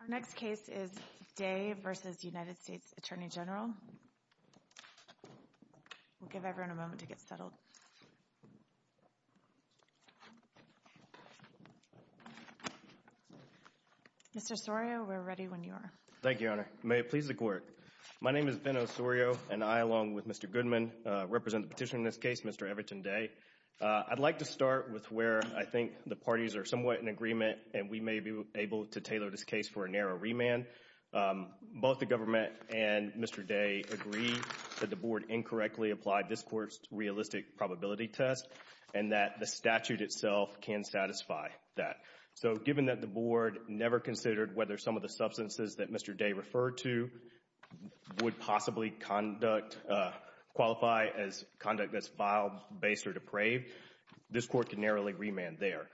Our next case is Daye v. U.S. Attorney General. We'll give everyone a moment to get settled. Mr. Osorio, we're ready when you are. Thank you, Your Honor. May it please the Court. My name is Ben Osorio, and I, along with Mr. Goodman, represent the petitioner in this case, Mr. Everton Daye. I'd like to start with where I think the parties are somewhat in agreement, and we may be able to tailor this case for a narrow remand. Both the government and Mr. Daye agree that the Board incorrectly applied this Court's realistic probability test, and that the statute itself can satisfy that. So given that the Board never considered whether some of the substances that Mr. Daye referred to would possibly qualify as conduct that's file-based or depraved, this Court can narrowly remand there.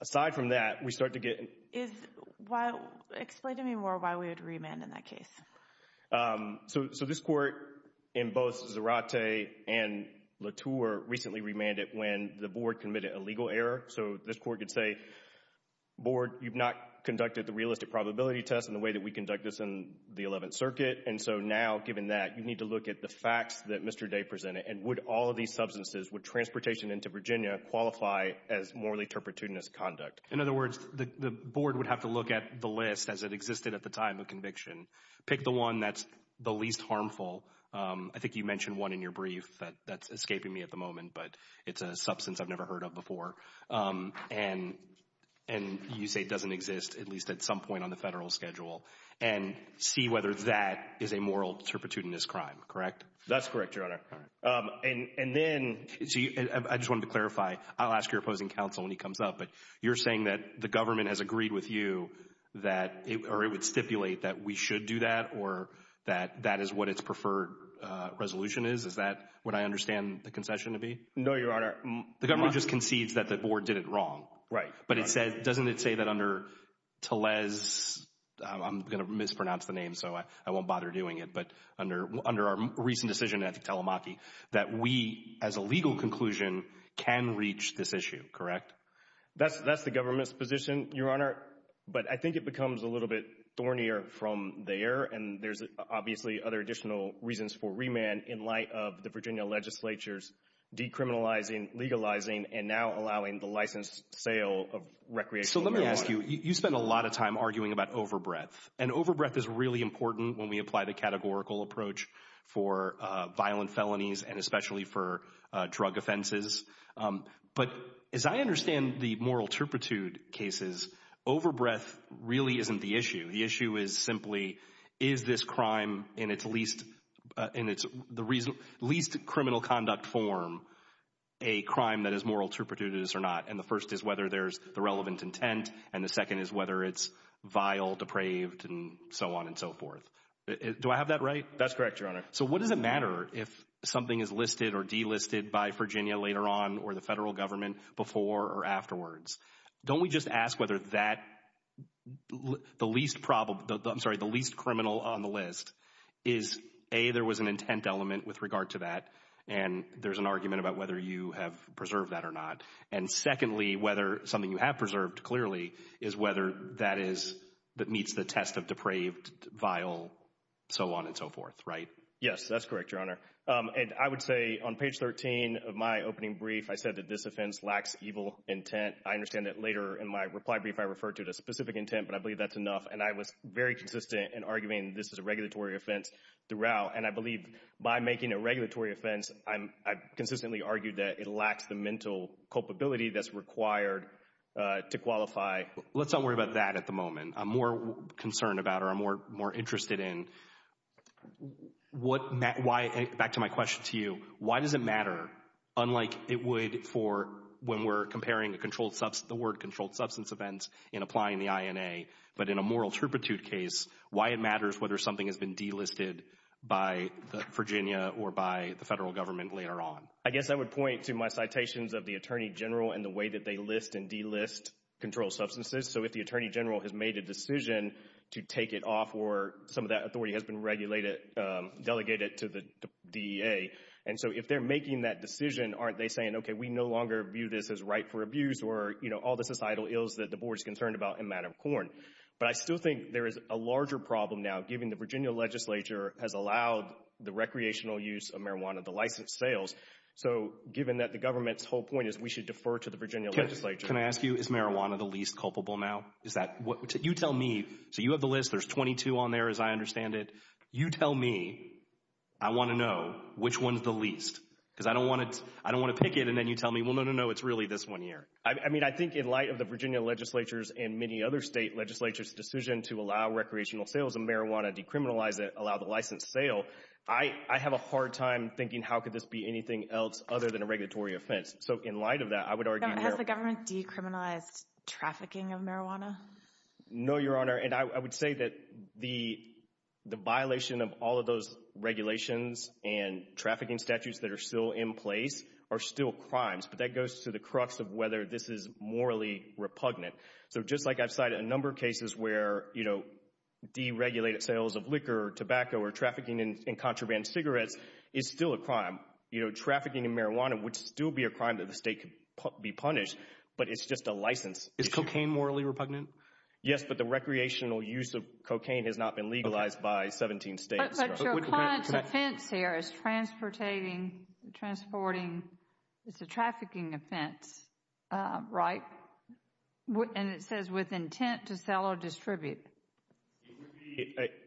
Aside from that, we start to get… Explain to me more why we would remand in that case. So this Court, in both Zarate and Latour, recently remanded when the Board committed a legal error. So this Court could say, Board, you've not conducted the realistic probability test in the way that we conduct this in the Eleventh Circuit. And so now, given that, you need to look at the facts that Mr. Daye presented, and would all of these substances, would transportation into Virginia qualify as morally turpitudinous conduct? In other words, the Board would have to look at the list as it existed at the time of conviction. Pick the one that's the least harmful. I think you mentioned one in your brief that's escaping me at the moment, but it's a substance I've never heard of before. And you say it doesn't exist, at least at some point on the Federal schedule, and see whether that is a moral turpitudinous crime, correct? That's correct, Your Honor. And then, I just wanted to clarify, I'll ask your opposing counsel when he comes up, but you're saying that the government has agreed with you that it would stipulate that we should do that, or that that is what its preferred resolution is? Is that what I understand the concession to be? No, Your Honor. The government just concedes that the Board did it wrong. Right. But doesn't it say that under Tellez, I'm going to mispronounce the name so I won't bother doing it, but under our recent decision at Telemachy, that we, as a legal conclusion, can reach this issue, correct? That's the government's position, Your Honor. But I think it becomes a little bit thornier from there, and there's obviously other additional reasons for remand in light of the Virginia legislature's decriminalizing, legalizing, and now allowing the license sale of recreational marijuana. So let me ask you, you spend a lot of time arguing about overbreath, and overbreath is really important when we apply the categorical approach for violent felonies, and especially for drug offenses. But as I understand the moral turpitude cases, overbreath really isn't the issue. The issue is simply, is this crime in its least criminal conduct form a crime that is moral turpitude or not? And the first is whether there's the relevant intent, and the second is whether it's vile, depraved, and so on and so forth. Do I have that right? That's correct, Your Honor. So what does it matter if something is listed or delisted by Virginia later on or the federal government before or afterwards? Don't we just ask whether the least criminal on the list is, A, there was an intent element with regard to that, and there's an argument about whether you have preserved that or not. And secondly, whether something you have preserved clearly is whether that meets the test of depraved, vile, so on and so forth, right? Yes, that's correct, Your Honor. And I would say on page 13 of my opening brief, I said that this offense lacks evil intent. I understand that later in my reply brief I referred to a specific intent, but I believe that's enough, and I was very consistent in arguing this is a regulatory offense throughout. And I believe by making a regulatory offense, I consistently argued that it lacks the mental culpability that's required to qualify. Let's not worry about that at the moment. I'm more concerned about or I'm more interested in what—back to my question to you. Why does it matter, unlike it would for when we're comparing the word controlled substance events in applying the INA, but in a moral turpitude case, why it matters whether something has been delisted by Virginia or by the federal government later on? I guess I would point to my citations of the Attorney General and the way that they list and delist controlled substances. So if the Attorney General has made a decision to take it off or some of that authority has been regulated, delegated to the DEA, and so if they're making that decision, aren't they saying, okay, we no longer view this as right for abuse or, you know, all the societal ills that the board is concerned about in a matter of court? But I still think there is a larger problem now, given the Virginia legislature has allowed the recreational use of marijuana, the licensed sales. So given that the government's whole point is we should defer to the Virginia legislature. Can I ask you, is marijuana the least culpable now? Is that—you tell me. So you have the list. There's 22 on there, as I understand it. You tell me. I want to know which one's the least, because I don't want to pick it and then you tell me, well, no, no, no, it's really this one here. I mean, I think in light of the Virginia legislature's and many other state legislatures' decision to allow recreational sales of marijuana, decriminalize it, allow the licensed sale, I have a hard time thinking how could this be anything else other than a regulatory offense. So in light of that, I would argue— Has the government decriminalized trafficking of marijuana? No, Your Honor, and I would say that the violation of all of those regulations and trafficking statutes that are still in place are still crimes, but that goes to the crux of whether this is morally repugnant. So just like I've cited a number of cases where deregulated sales of liquor or tobacco or trafficking in contraband cigarettes is still a crime, trafficking in marijuana would still be a crime that the state could be punished, but it's just a license issue. Is cocaine morally repugnant? Yes, but the recreational use of cocaine has not been legalized by 17 states. But your client's offense here is transporting, it's a trafficking offense, right? And it says with intent to sell or distribute. It would be—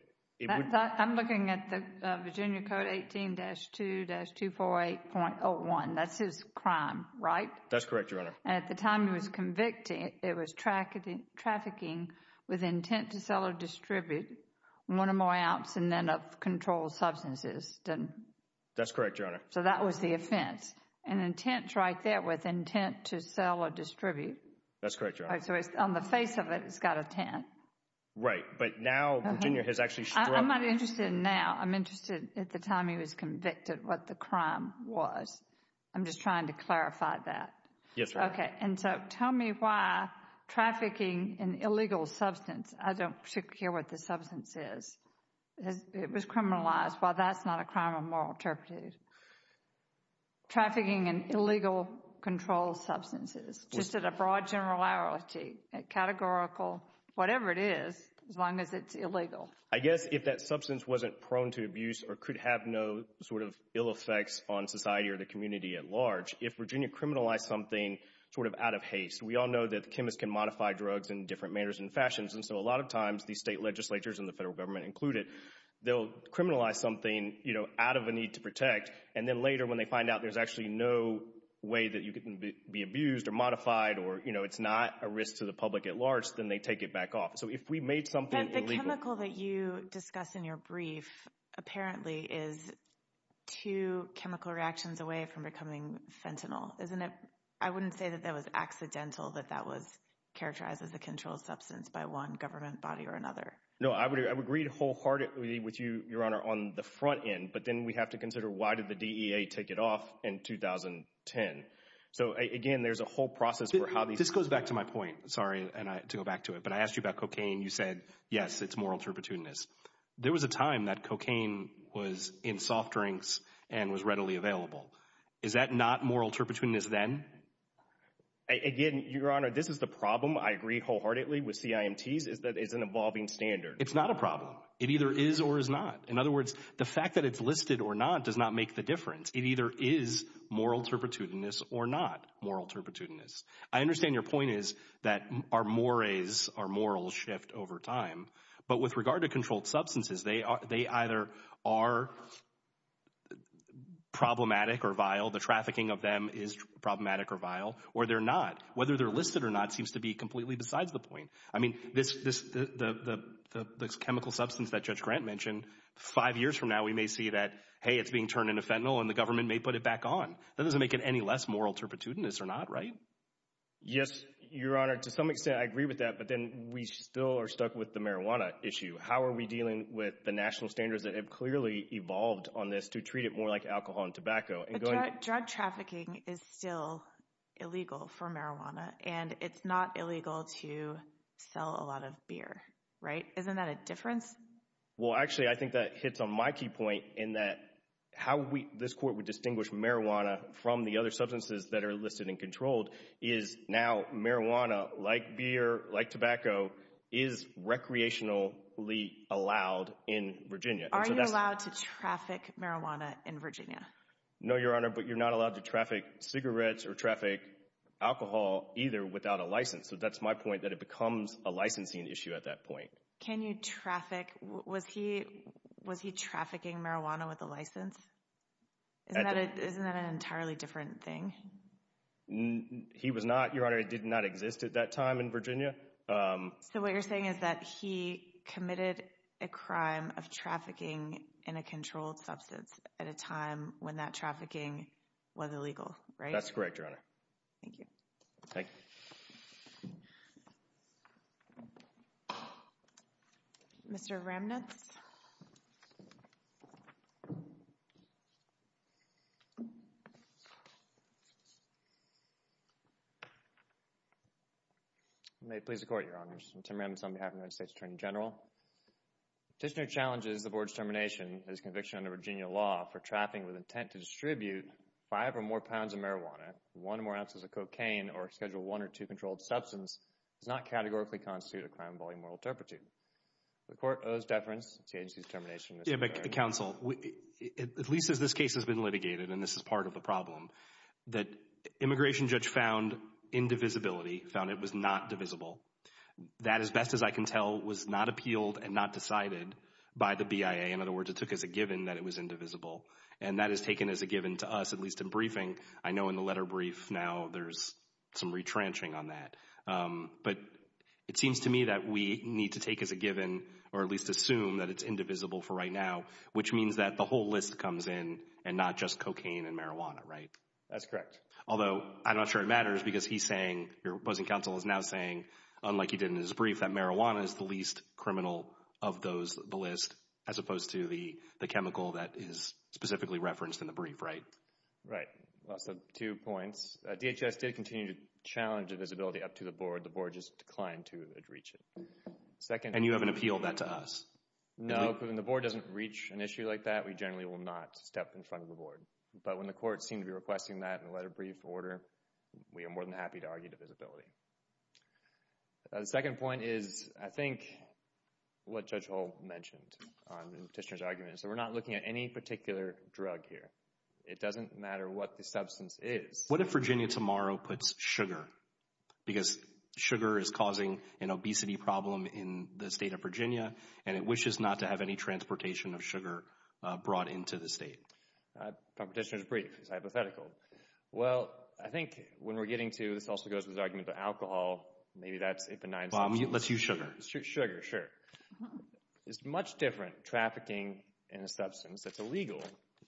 I'm looking at the Virginia Code 18-2-248.01. That's his crime, right? That's correct, Your Honor. And at the time he was convicted, it was trafficking with intent to sell or distribute one or more ounce and then of controlled substances, didn't it? That's correct, Your Honor. So that was the offense. And intent's right there with intent to sell or distribute. That's correct, Your Honor. So on the face of it, it's got intent. Right, but now Virginia has actually struck— I'm not interested in now. I'm interested at the time he was convicted what the crime was. I'm just trying to clarify that. Yes, Your Honor. Okay, and so tell me why trafficking in illegal substance—I don't particularly care what the substance is. It was criminalized. Well, that's not a crime of moral interpretive. Trafficking in illegal controlled substances, just at a broad generality, categorical, whatever it is, as long as it's illegal. I guess if that substance wasn't prone to abuse or could have no sort of ill effects on society or the community at large, if Virginia criminalized something sort of out of haste— we all know that chemists can modify drugs in different manners and fashions, and so a lot of times these state legislatures and the federal government included, they'll criminalize something, you know, out of a need to protect, and then later when they find out there's actually no way that you can be abused or modified or, you know, it's not a risk to the public at large, then they take it back off. So if we made something illegal— I wouldn't say that that was accidental, that that was characterized as a controlled substance by one government body or another. No, I would agree wholeheartedly with you, Your Honor, on the front end, but then we have to consider why did the DEA take it off in 2010. So, again, there's a whole process for how these— This goes back to my point, sorry, to go back to it, but I asked you about cocaine. You said, yes, it's moral turpitudinous. There was a time that cocaine was in soft drinks and was readily available. Is that not moral turpitudinous then? Again, Your Honor, this is the problem. I agree wholeheartedly with CIMT's is that it's an evolving standard. It's not a problem. It either is or is not. In other words, the fact that it's listed or not does not make the difference. It either is moral turpitudinous or not moral turpitudinous. I understand your point is that our mores, our morals shift over time, but with regard to controlled substances, they either are problematic or vile, the trafficking of them is problematic or vile, or they're not. Whether they're listed or not seems to be completely besides the point. I mean, this chemical substance that Judge Grant mentioned, five years from now we may see that, hey, it's being turned into fentanyl, and the government may put it back on. That doesn't make it any less moral turpitudinous or not, right? Yes, Your Honor. To some extent I agree with that, but then we still are stuck with the marijuana issue. How are we dealing with the national standards that have clearly evolved on this to treat it more like alcohol and tobacco? Drug trafficking is still illegal for marijuana, and it's not illegal to sell a lot of beer, right? Isn't that a difference? Well, actually, I think that hits on my key point in that how this court would distinguish marijuana from the other substances that are listed and controlled is now marijuana, like beer, like tobacco, is recreationally allowed in Virginia. Are you allowed to traffic marijuana in Virginia? No, Your Honor, but you're not allowed to traffic cigarettes or traffic alcohol either without a license. So that's my point, that it becomes a licensing issue at that point. Can you traffic? Was he trafficking marijuana with a license? Isn't that an entirely different thing? He was not, Your Honor. It did not exist at that time in Virginia. So what you're saying is that he committed a crime of trafficking in a controlled substance at a time when that trafficking was illegal, right? That's correct, Your Honor. Thank you. Thank you. Mr. Ramnitz? May it please the Court, Your Honors. Tim Ramnitz on behalf of the United States Attorney General. The petitioner challenges the Board's termination of his conviction under Virginia law for trafficking with intent to distribute five or more pounds of marijuana, one or more ounces of cocaine, or a Schedule I or II controlled substance does not categorically constitute a crime of volumoral turpitude. The Court owes deference to the agency's termination. Counsel, at least as this case has been litigated, and this is part of the problem, that immigration judge found indivisibility, found it was not divisible. That, as best as I can tell, was not appealed and not decided by the BIA. In other words, it took as a given that it was indivisible, and that is taken as a given to us at least in briefing. I know in the letter brief now there's some retrenching on that. But it seems to me that we need to take as a given or at least assume that it's indivisible for right now, which means that the whole list comes in and not just cocaine and marijuana, right? That's correct. Although I'm not sure it matters because he's saying, your opposing counsel is now saying, unlike he did in his brief, that marijuana is the least criminal of the list as opposed to the chemical that is specifically referenced in the brief, right? Right. So two points. DHS did continue to challenge divisibility up to the Board. The Board just declined to reach it. And you haven't appealed that to us? No, because when the Board doesn't reach an issue like that, we generally will not step in front of the Board. But when the courts seem to be requesting that in a letter brief order, we are more than happy to argue divisibility. The second point is I think what Judge Hull mentioned in Petitioner's argument. So we're not looking at any particular drug here. It doesn't matter what the substance is. What if Virginia tomorrow puts sugar? Because sugar is causing an obesity problem in the state of Virginia, and it wishes not to have any transportation of sugar brought into the state. Petitioner's brief. It's hypothetical. Well, I think when we're getting to, this also goes with the argument of alcohol, maybe that's a benign substance. Let's use sugar. Sugar, sure. It's much different trafficking in a substance that's illegal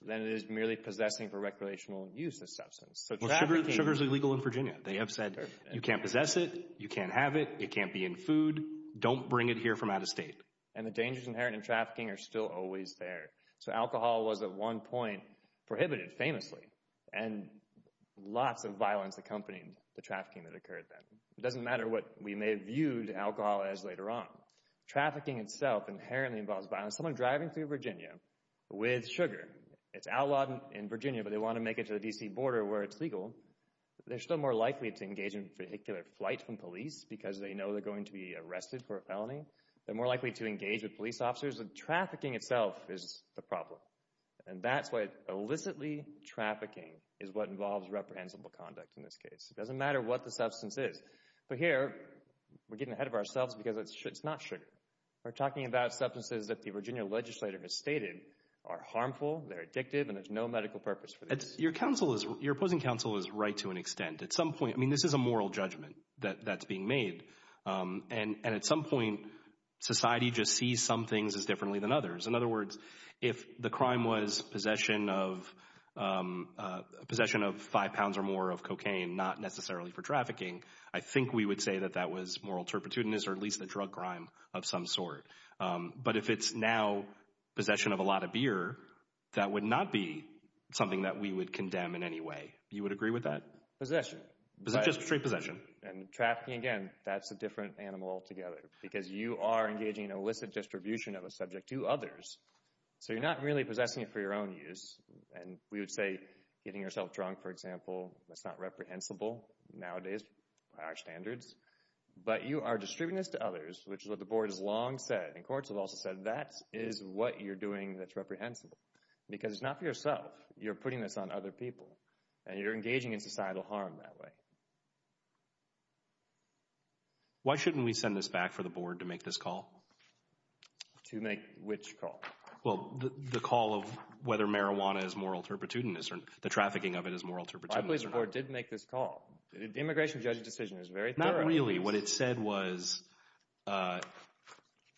than it is merely possessing for recreational use of substance. Well, sugar is illegal in Virginia. They have said you can't possess it, you can't have it, it can't be in food, don't bring it here from out of state. And the dangers inherent in trafficking are still always there. So alcohol was at one point prohibited famously, and lots of violence accompanied the trafficking that occurred then. It doesn't matter what we may have viewed alcohol as later on. Trafficking itself inherently involves violence. Someone driving through Virginia with sugar. It's outlawed in Virginia, but they want to make it to the D.C. border where it's legal. They're still more likely to engage in vehicular flight from police because they know they're going to be arrested for a felony. They're more likely to engage with police officers. Trafficking itself is the problem, and that's why illicitly trafficking is what involves reprehensible conduct in this case. It doesn't matter what the substance is. But here we're getting ahead of ourselves because it's not sugar. We're talking about substances that the Virginia legislature has stated are harmful, they're addictive, and there's no medical purpose for this. Your opposing counsel is right to an extent. At some point, I mean, this is a moral judgment that's being made, and at some point society just sees some things as differently than others. In other words, if the crime was possession of five pounds or more of cocaine, not necessarily for trafficking, I think we would say that that was moral turpitude or at least a drug crime of some sort. But if it's now possession of a lot of beer, that would not be something that we would condemn in any way. You would agree with that? Possession. Just straight possession. And trafficking, again, that's a different animal altogether because you are engaging in illicit distribution of a subject to others, so you're not really possessing it for your own use. And we would say getting yourself drunk, for example, that's not reprehensible nowadays by our standards. But you are distributing this to others, which is what the board has long said, and courts have also said that is what you're doing that's reprehensible because it's not for yourself. You're putting this on other people, and you're engaging in societal harm that way. Why shouldn't we send this back for the board to make this call? To make which call? Well, the call of whether marijuana is moral turpitudinous or the trafficking of it is moral turpitudinous. I believe the board did make this call. The immigration judge's decision is very thorough. Not really. What it said was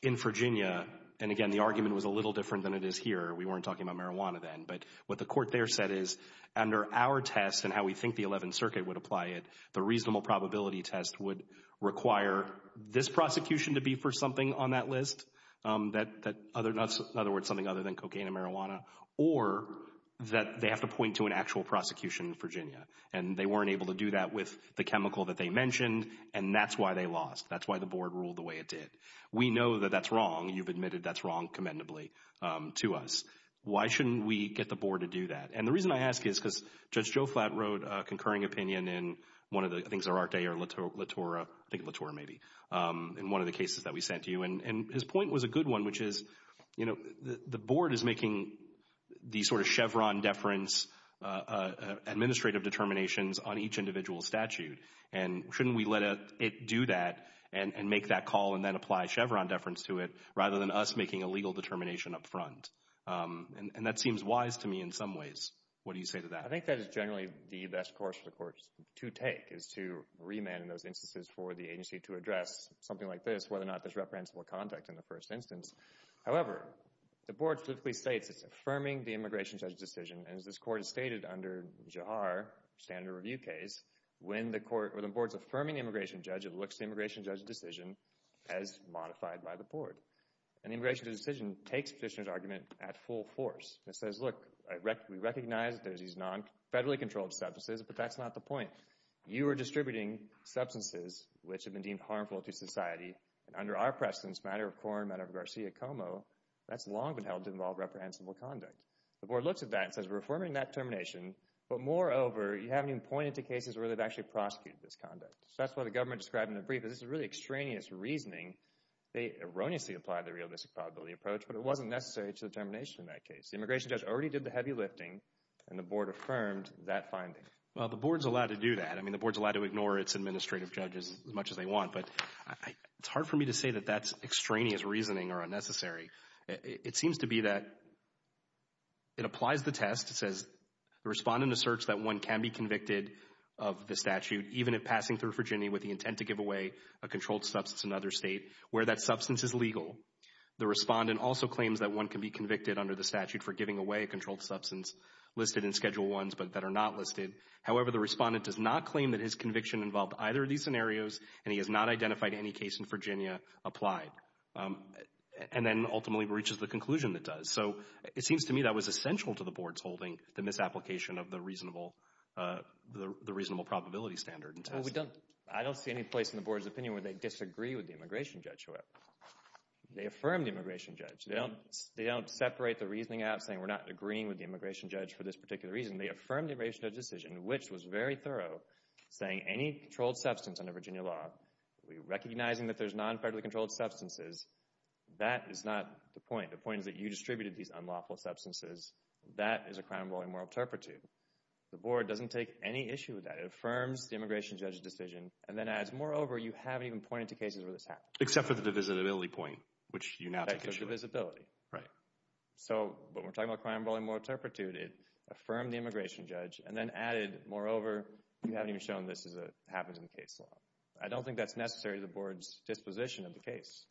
in Virginia, and again, the argument was a little different than it is here. We weren't talking about marijuana then, but what the court there said is under our test and how we think the Eleventh Circuit would apply it, the reasonable probability test would require this prosecution to be for something on that list, in other words, something other than cocaine and marijuana, or that they have to point to an actual prosecution in Virginia. And they weren't able to do that with the chemical that they mentioned, and that's why they lost. That's why the board ruled the way it did. We know that that's wrong. You've admitted that's wrong commendably to us. Why shouldn't we get the board to do that? And the reason I ask is because Judge Joflat wrote a concurring opinion in one of the things, Orate or Latoura, I think Latoura maybe, in one of the cases that we sent to you. And his point was a good one, which is, you know, the board is making these sort of Chevron deference administrative determinations on each individual statute, and shouldn't we let it do that and make that call and then apply Chevron deference to it rather than us making a legal determination up front? And that seems wise to me in some ways. What do you say to that? I think that is generally the best course for the courts to take is to remand in those instances for the agency to address something like this, whether or not there's reprehensible conduct in the first instance. However, the board states it's affirming the immigration judge's decision, and as this court has stated under Jahar, standard review case, when the board's affirming the immigration judge, it looks to the immigration judge's decision as modified by the board. And the immigration judge's decision takes the petitioner's argument at full force. It says, look, we recognize that there's these non-federally controlled substances, but that's not the point. You are distributing substances which have been deemed harmful to society, and under our precedence, matter of core and matter of Garcia-Como, that's long been held to involve reprehensible conduct. The board looks at that and says we're affirming that determination, but moreover, you haven't even pointed to cases where they've actually prosecuted this conduct. So that's what the government described in the brief, is this is really extraneous reasoning. They erroneously applied the realistic probability approach, but it wasn't necessary to determination in that case. The immigration judge already did the heavy lifting, and the board affirmed that finding. Well, the board's allowed to do that. I mean, the board's allowed to ignore its administrative judges as much as they want, but it's hard for me to say that that's extraneous reasoning or unnecessary. It seems to be that it applies the test. It says respond in a search that one can be convicted of the statute even if passing through Virginia with the intent to give away a controlled substance in another state where that substance is legal. The respondent also claims that one can be convicted under the statute for giving away a controlled substance listed in Schedule I's but that are not listed. However, the respondent does not claim that his conviction involved either of these scenarios, and he has not identified any case in Virginia applied, and then ultimately reaches the conclusion that does. So it seems to me that was essential to the board's holding, the misapplication of the reasonable probability standard. I don't see any place in the board's opinion where they disagree with the immigration judge. They affirm the immigration judge. They don't separate the reasoning out saying we're not agreeing with the immigration judge for this particular reason. They affirm the immigration judge's decision, which was very thorough, saying any controlled substance under Virginia law, recognizing that there's non-federally controlled substances, that is not the point. The point is that you distributed these unlawful substances. That is a crime involving moral turpitude. The board doesn't take any issue with that. It affirms the immigration judge's decision and then adds, moreover, you haven't even pointed to cases where this happened. Except for the divisibility point, which you now take issue with. That's a divisibility. Right. So when we're talking about crime involving moral turpitude, it affirmed the immigration judge and then added, moreover, you haven't even shown this happens in the case law. I don't think that's necessary to the board's disposition of the case.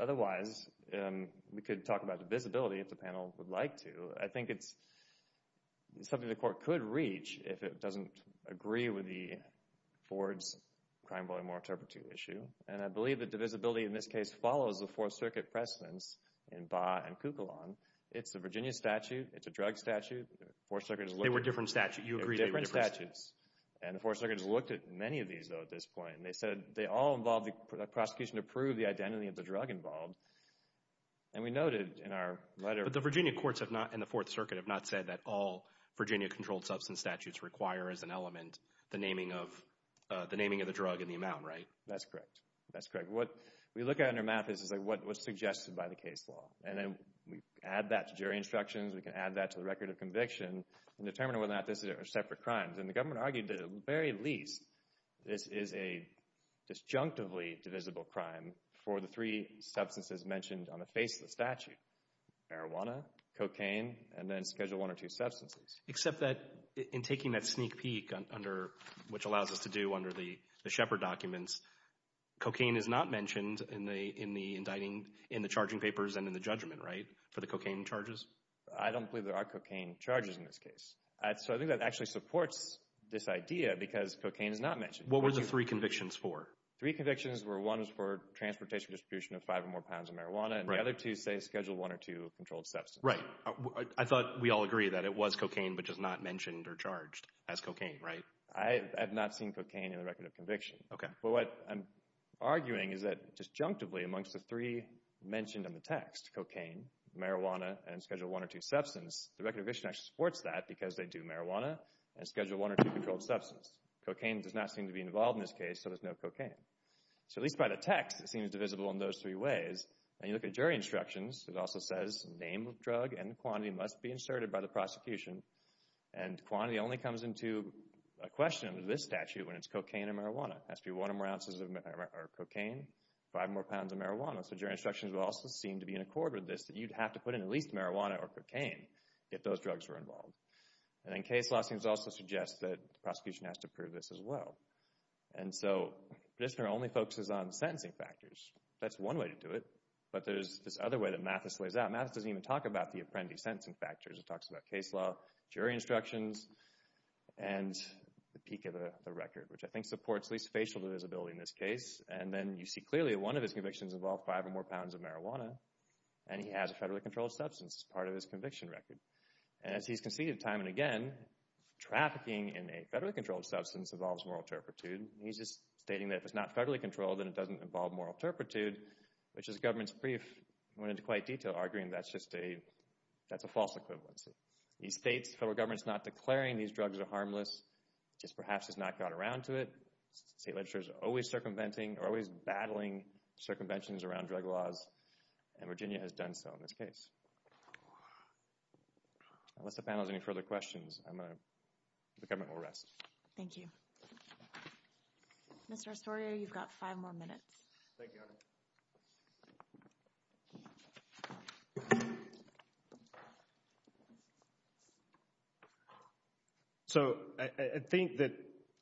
Otherwise, we could talk about divisibility if the panel would like to. I think it's something the court could reach if it doesn't agree with the board's crime involving moral turpitude issue. And I believe the divisibility in this case follows the Fourth Circuit precedents in Baugh and Kukulon. It's a Virginia statute. It's a drug statute. They were different statutes. You agreed they were different statutes. They were different statutes. And the Fourth Circuit has looked at many of these, though, at this point. And they said they all involved the prosecution to prove the identity of the drug involved. And we noted in our letter. But the Virginia courts have not, in the Fourth Circuit, have not said that all Virginia-controlled substance statutes require as an element the naming of the drug and the amount, right? That's correct. That's correct. What we look at in our math is what's suggested by the case law. And then we add that to jury instructions. We can add that to the record of conviction in determining whether or not this is a separate crime. And the government argued, at the very least, this is a disjunctively divisible crime for the three substances mentioned on the face of the statute, marijuana, cocaine, and then Schedule I or II substances. Except that in taking that sneak peek, which allows us to do under the Shepard documents, cocaine is not mentioned in the charging papers and in the judgment, right, for the cocaine charges? I don't believe there are cocaine charges in this case. So I think that actually supports this idea because cocaine is not mentioned. What were the three convictions for? Three convictions were one was for transportation distribution of five or more pounds of marijuana, and the other two say Schedule I or II controlled substance. Right. I thought we all agreed that it was cocaine but just not mentioned or charged as cocaine, right? I have not seen cocaine in the record of conviction. Okay. But what I'm arguing is that disjunctively amongst the three mentioned in the text, cocaine, marijuana, and Schedule I or II substance, the record of conviction actually supports that because they do marijuana and Schedule I or II controlled substance. Cocaine does not seem to be involved in this case, so there's no cocaine. So at least by the text, it seems divisible in those three ways. When you look at jury instructions, it also says name of drug and quantity must be inserted by the prosecution. And quantity only comes into question under this statute when it's cocaine and marijuana. It has to be one or more ounces of cocaine, five more pounds of marijuana. So jury instructions will also seem to be in accord with this, that you'd have to put in at least marijuana or cocaine if those drugs were involved. And then case law seems to also suggest that the prosecution has to prove this as well. And so Pridisner only focuses on sentencing factors. That's one way to do it, but there's this other way that Mathis lays out. Mathis doesn't even talk about the apprentice sentencing factors. He talks about case law, jury instructions, and the peak of the record, which I think supports at least facial divisibility in this case. And then you see clearly one of his convictions involved five or more pounds of marijuana, and he has a federally controlled substance as part of his conviction record. And as he's conceded time and again, trafficking in a federally controlled substance involves moral turpitude. He's just stating that if it's not federally controlled, then it doesn't involve moral turpitude, which his government's brief went into quite detail, arguing that's just a false equivalency. He states the federal government's not declaring these drugs are harmless, just perhaps has not got around to it. State legislators are always circumventing or always battling circumventions around drug laws, and Virginia has done so in this case. Unless the panel has any further questions, the government will rest. Thank you. Mr. Arsorio, you've got five more minutes. Thank you. Go ahead. So I think that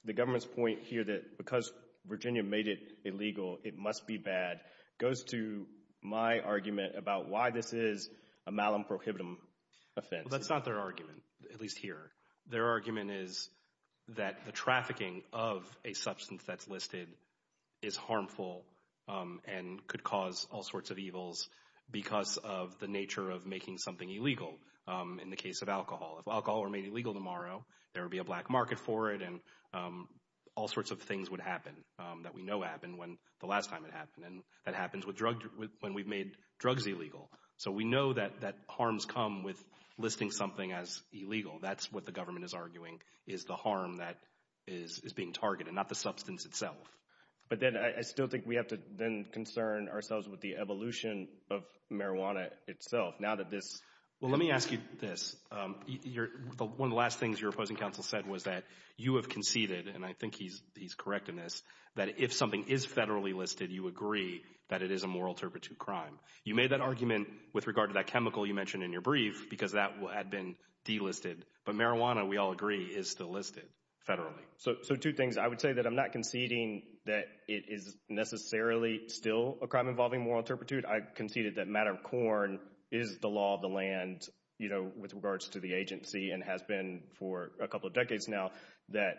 the government's point here that because Virginia made it illegal it must be bad goes to my argument about why this is a malum prohibitum offense. That's not their argument, at least here. Their argument is that the trafficking of a substance that's listed is harmful and could cause all sorts of evils because of the nature of making something illegal. In the case of alcohol, if alcohol were made illegal tomorrow, there would be a black market for it and all sorts of things would happen that we know happened when the last time it happened, and that happens when we've made drugs illegal. That's what the government is arguing is the harm that is being targeted, not the substance itself. But then I still think we have to then concern ourselves with the evolution of marijuana itself. Well, let me ask you this. One of the last things your opposing counsel said was that you have conceded, and I think he's correct in this, that if something is federally listed, you agree that it is a moral turpitude crime. You made that argument with regard to that chemical you mentioned in your brief because that had been delisted, but marijuana, we all agree, is still listed federally. So two things. I would say that I'm not conceding that it is necessarily still a crime involving moral turpitude. I conceded that Matter of Corn is the law of the land with regards to the agency and has been for a couple of decades now that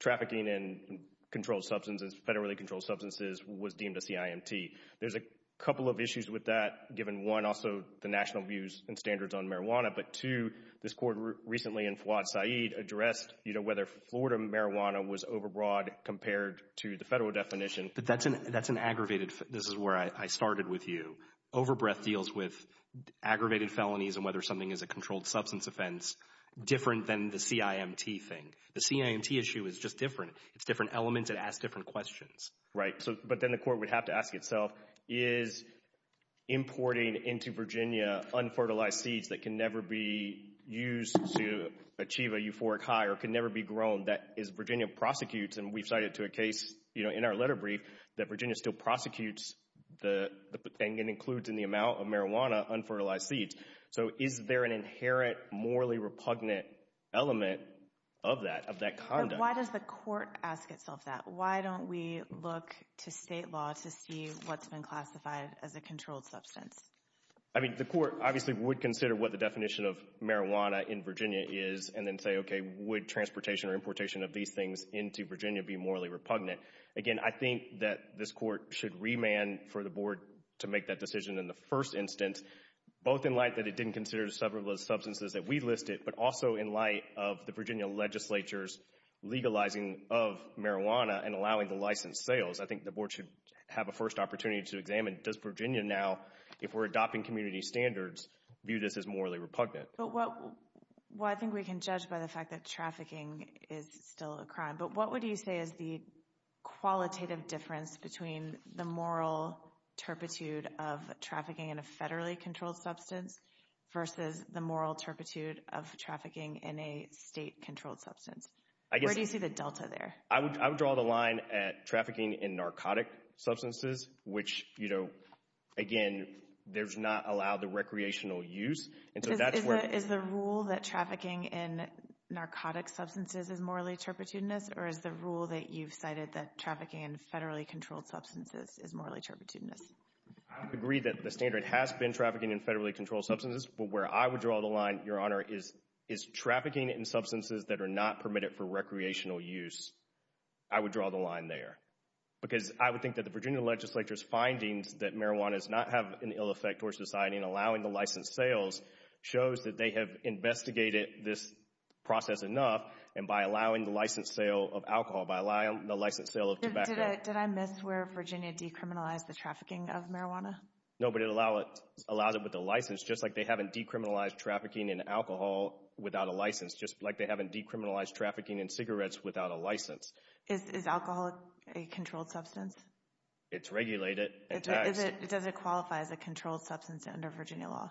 trafficking in controlled substances, federally controlled substances, was deemed a CIMT. There's a couple of issues with that given, one, also the national views and standards on marijuana, but, two, this court recently in Fouad Saeed addressed whether Florida marijuana was overbroad compared to the federal definition. But that's an aggravated—this is where I started with you. Overbreath deals with aggravated felonies and whether something is a controlled substance offense different than the CIMT thing. The CIMT issue is just different. It's different elements. It asks different questions. Right. But then the court would have to ask itself, is importing into Virginia unfertilized seeds that can never be used to achieve a euphoric high or can never be grown, that as Virginia prosecutes, and we've cited to a case in our letter brief, that Virginia still prosecutes and includes in the amount of marijuana unfertilized seeds. So is there an inherent morally repugnant element of that, of that conduct? Why does the court ask itself that? Why don't we look to state law to see what's been classified as a controlled substance? I mean, the court obviously would consider what the definition of marijuana in Virginia is and then say, okay, would transportation or importation of these things into Virginia be morally repugnant? Again, I think that this court should remand for the board to make that decision in the first instance, both in light that it didn't consider several of those substances that we listed but also in light of the Virginia legislature's legalizing of marijuana and allowing the license sales. I think the board should have a first opportunity to examine, does Virginia now, if we're adopting community standards, view this as morally repugnant? Well, I think we can judge by the fact that trafficking is still a crime. But what would you say is the qualitative difference between the moral turpitude of trafficking in a federally controlled substance versus the moral turpitude of trafficking in a state-controlled substance? Where do you see the delta there? I would draw the line at trafficking in narcotic substances, which, you know, again, there's not allowed the recreational use. Is the rule that trafficking in narcotic substances is morally turpitudinous or is the rule that you've cited that trafficking in federally controlled substances is morally turpitudinous? I would agree that the standard has been trafficking in federally controlled substances. But where I would draw the line, Your Honor, is trafficking in substances that are not permitted for recreational use. I would draw the line there. Because I would think that the Virginia legislature's findings that marijuana does not have an ill effect towards society and allowing the license sales shows that they have investigated this process enough and by allowing the license sale of alcohol, by allowing the license sale of tobacco— No, but it allows it with the license, just like they haven't decriminalized trafficking in alcohol without a license, just like they haven't decriminalized trafficking in cigarettes without a license. Is alcohol a controlled substance? It's regulated and taxed. Does it qualify as a controlled substance under Virginia law?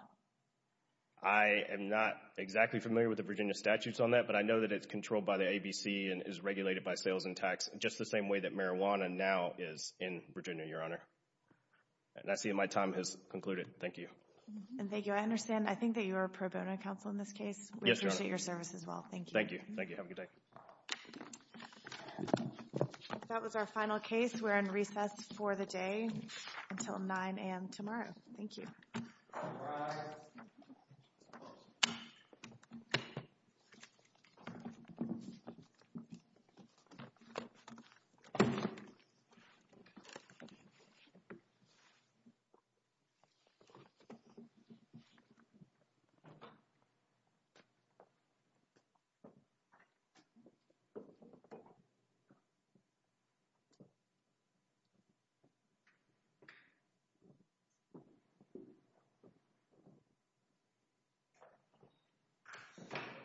I am not exactly familiar with the Virginia statutes on that, but I know that it's controlled by the ABC and is regulated by sales and tax just the same way that marijuana now is in Virginia, Your Honor. And I see that my time has concluded. Thank you. And thank you. I understand. I think that you are a pro bono counsel in this case. Yes, Your Honor. We appreciate your service as well. Thank you. Thank you. Thank you. Have a good day. That was our final case. We're in recess for the day until 9 a.m. tomorrow. Thank you. All rise. Thank you.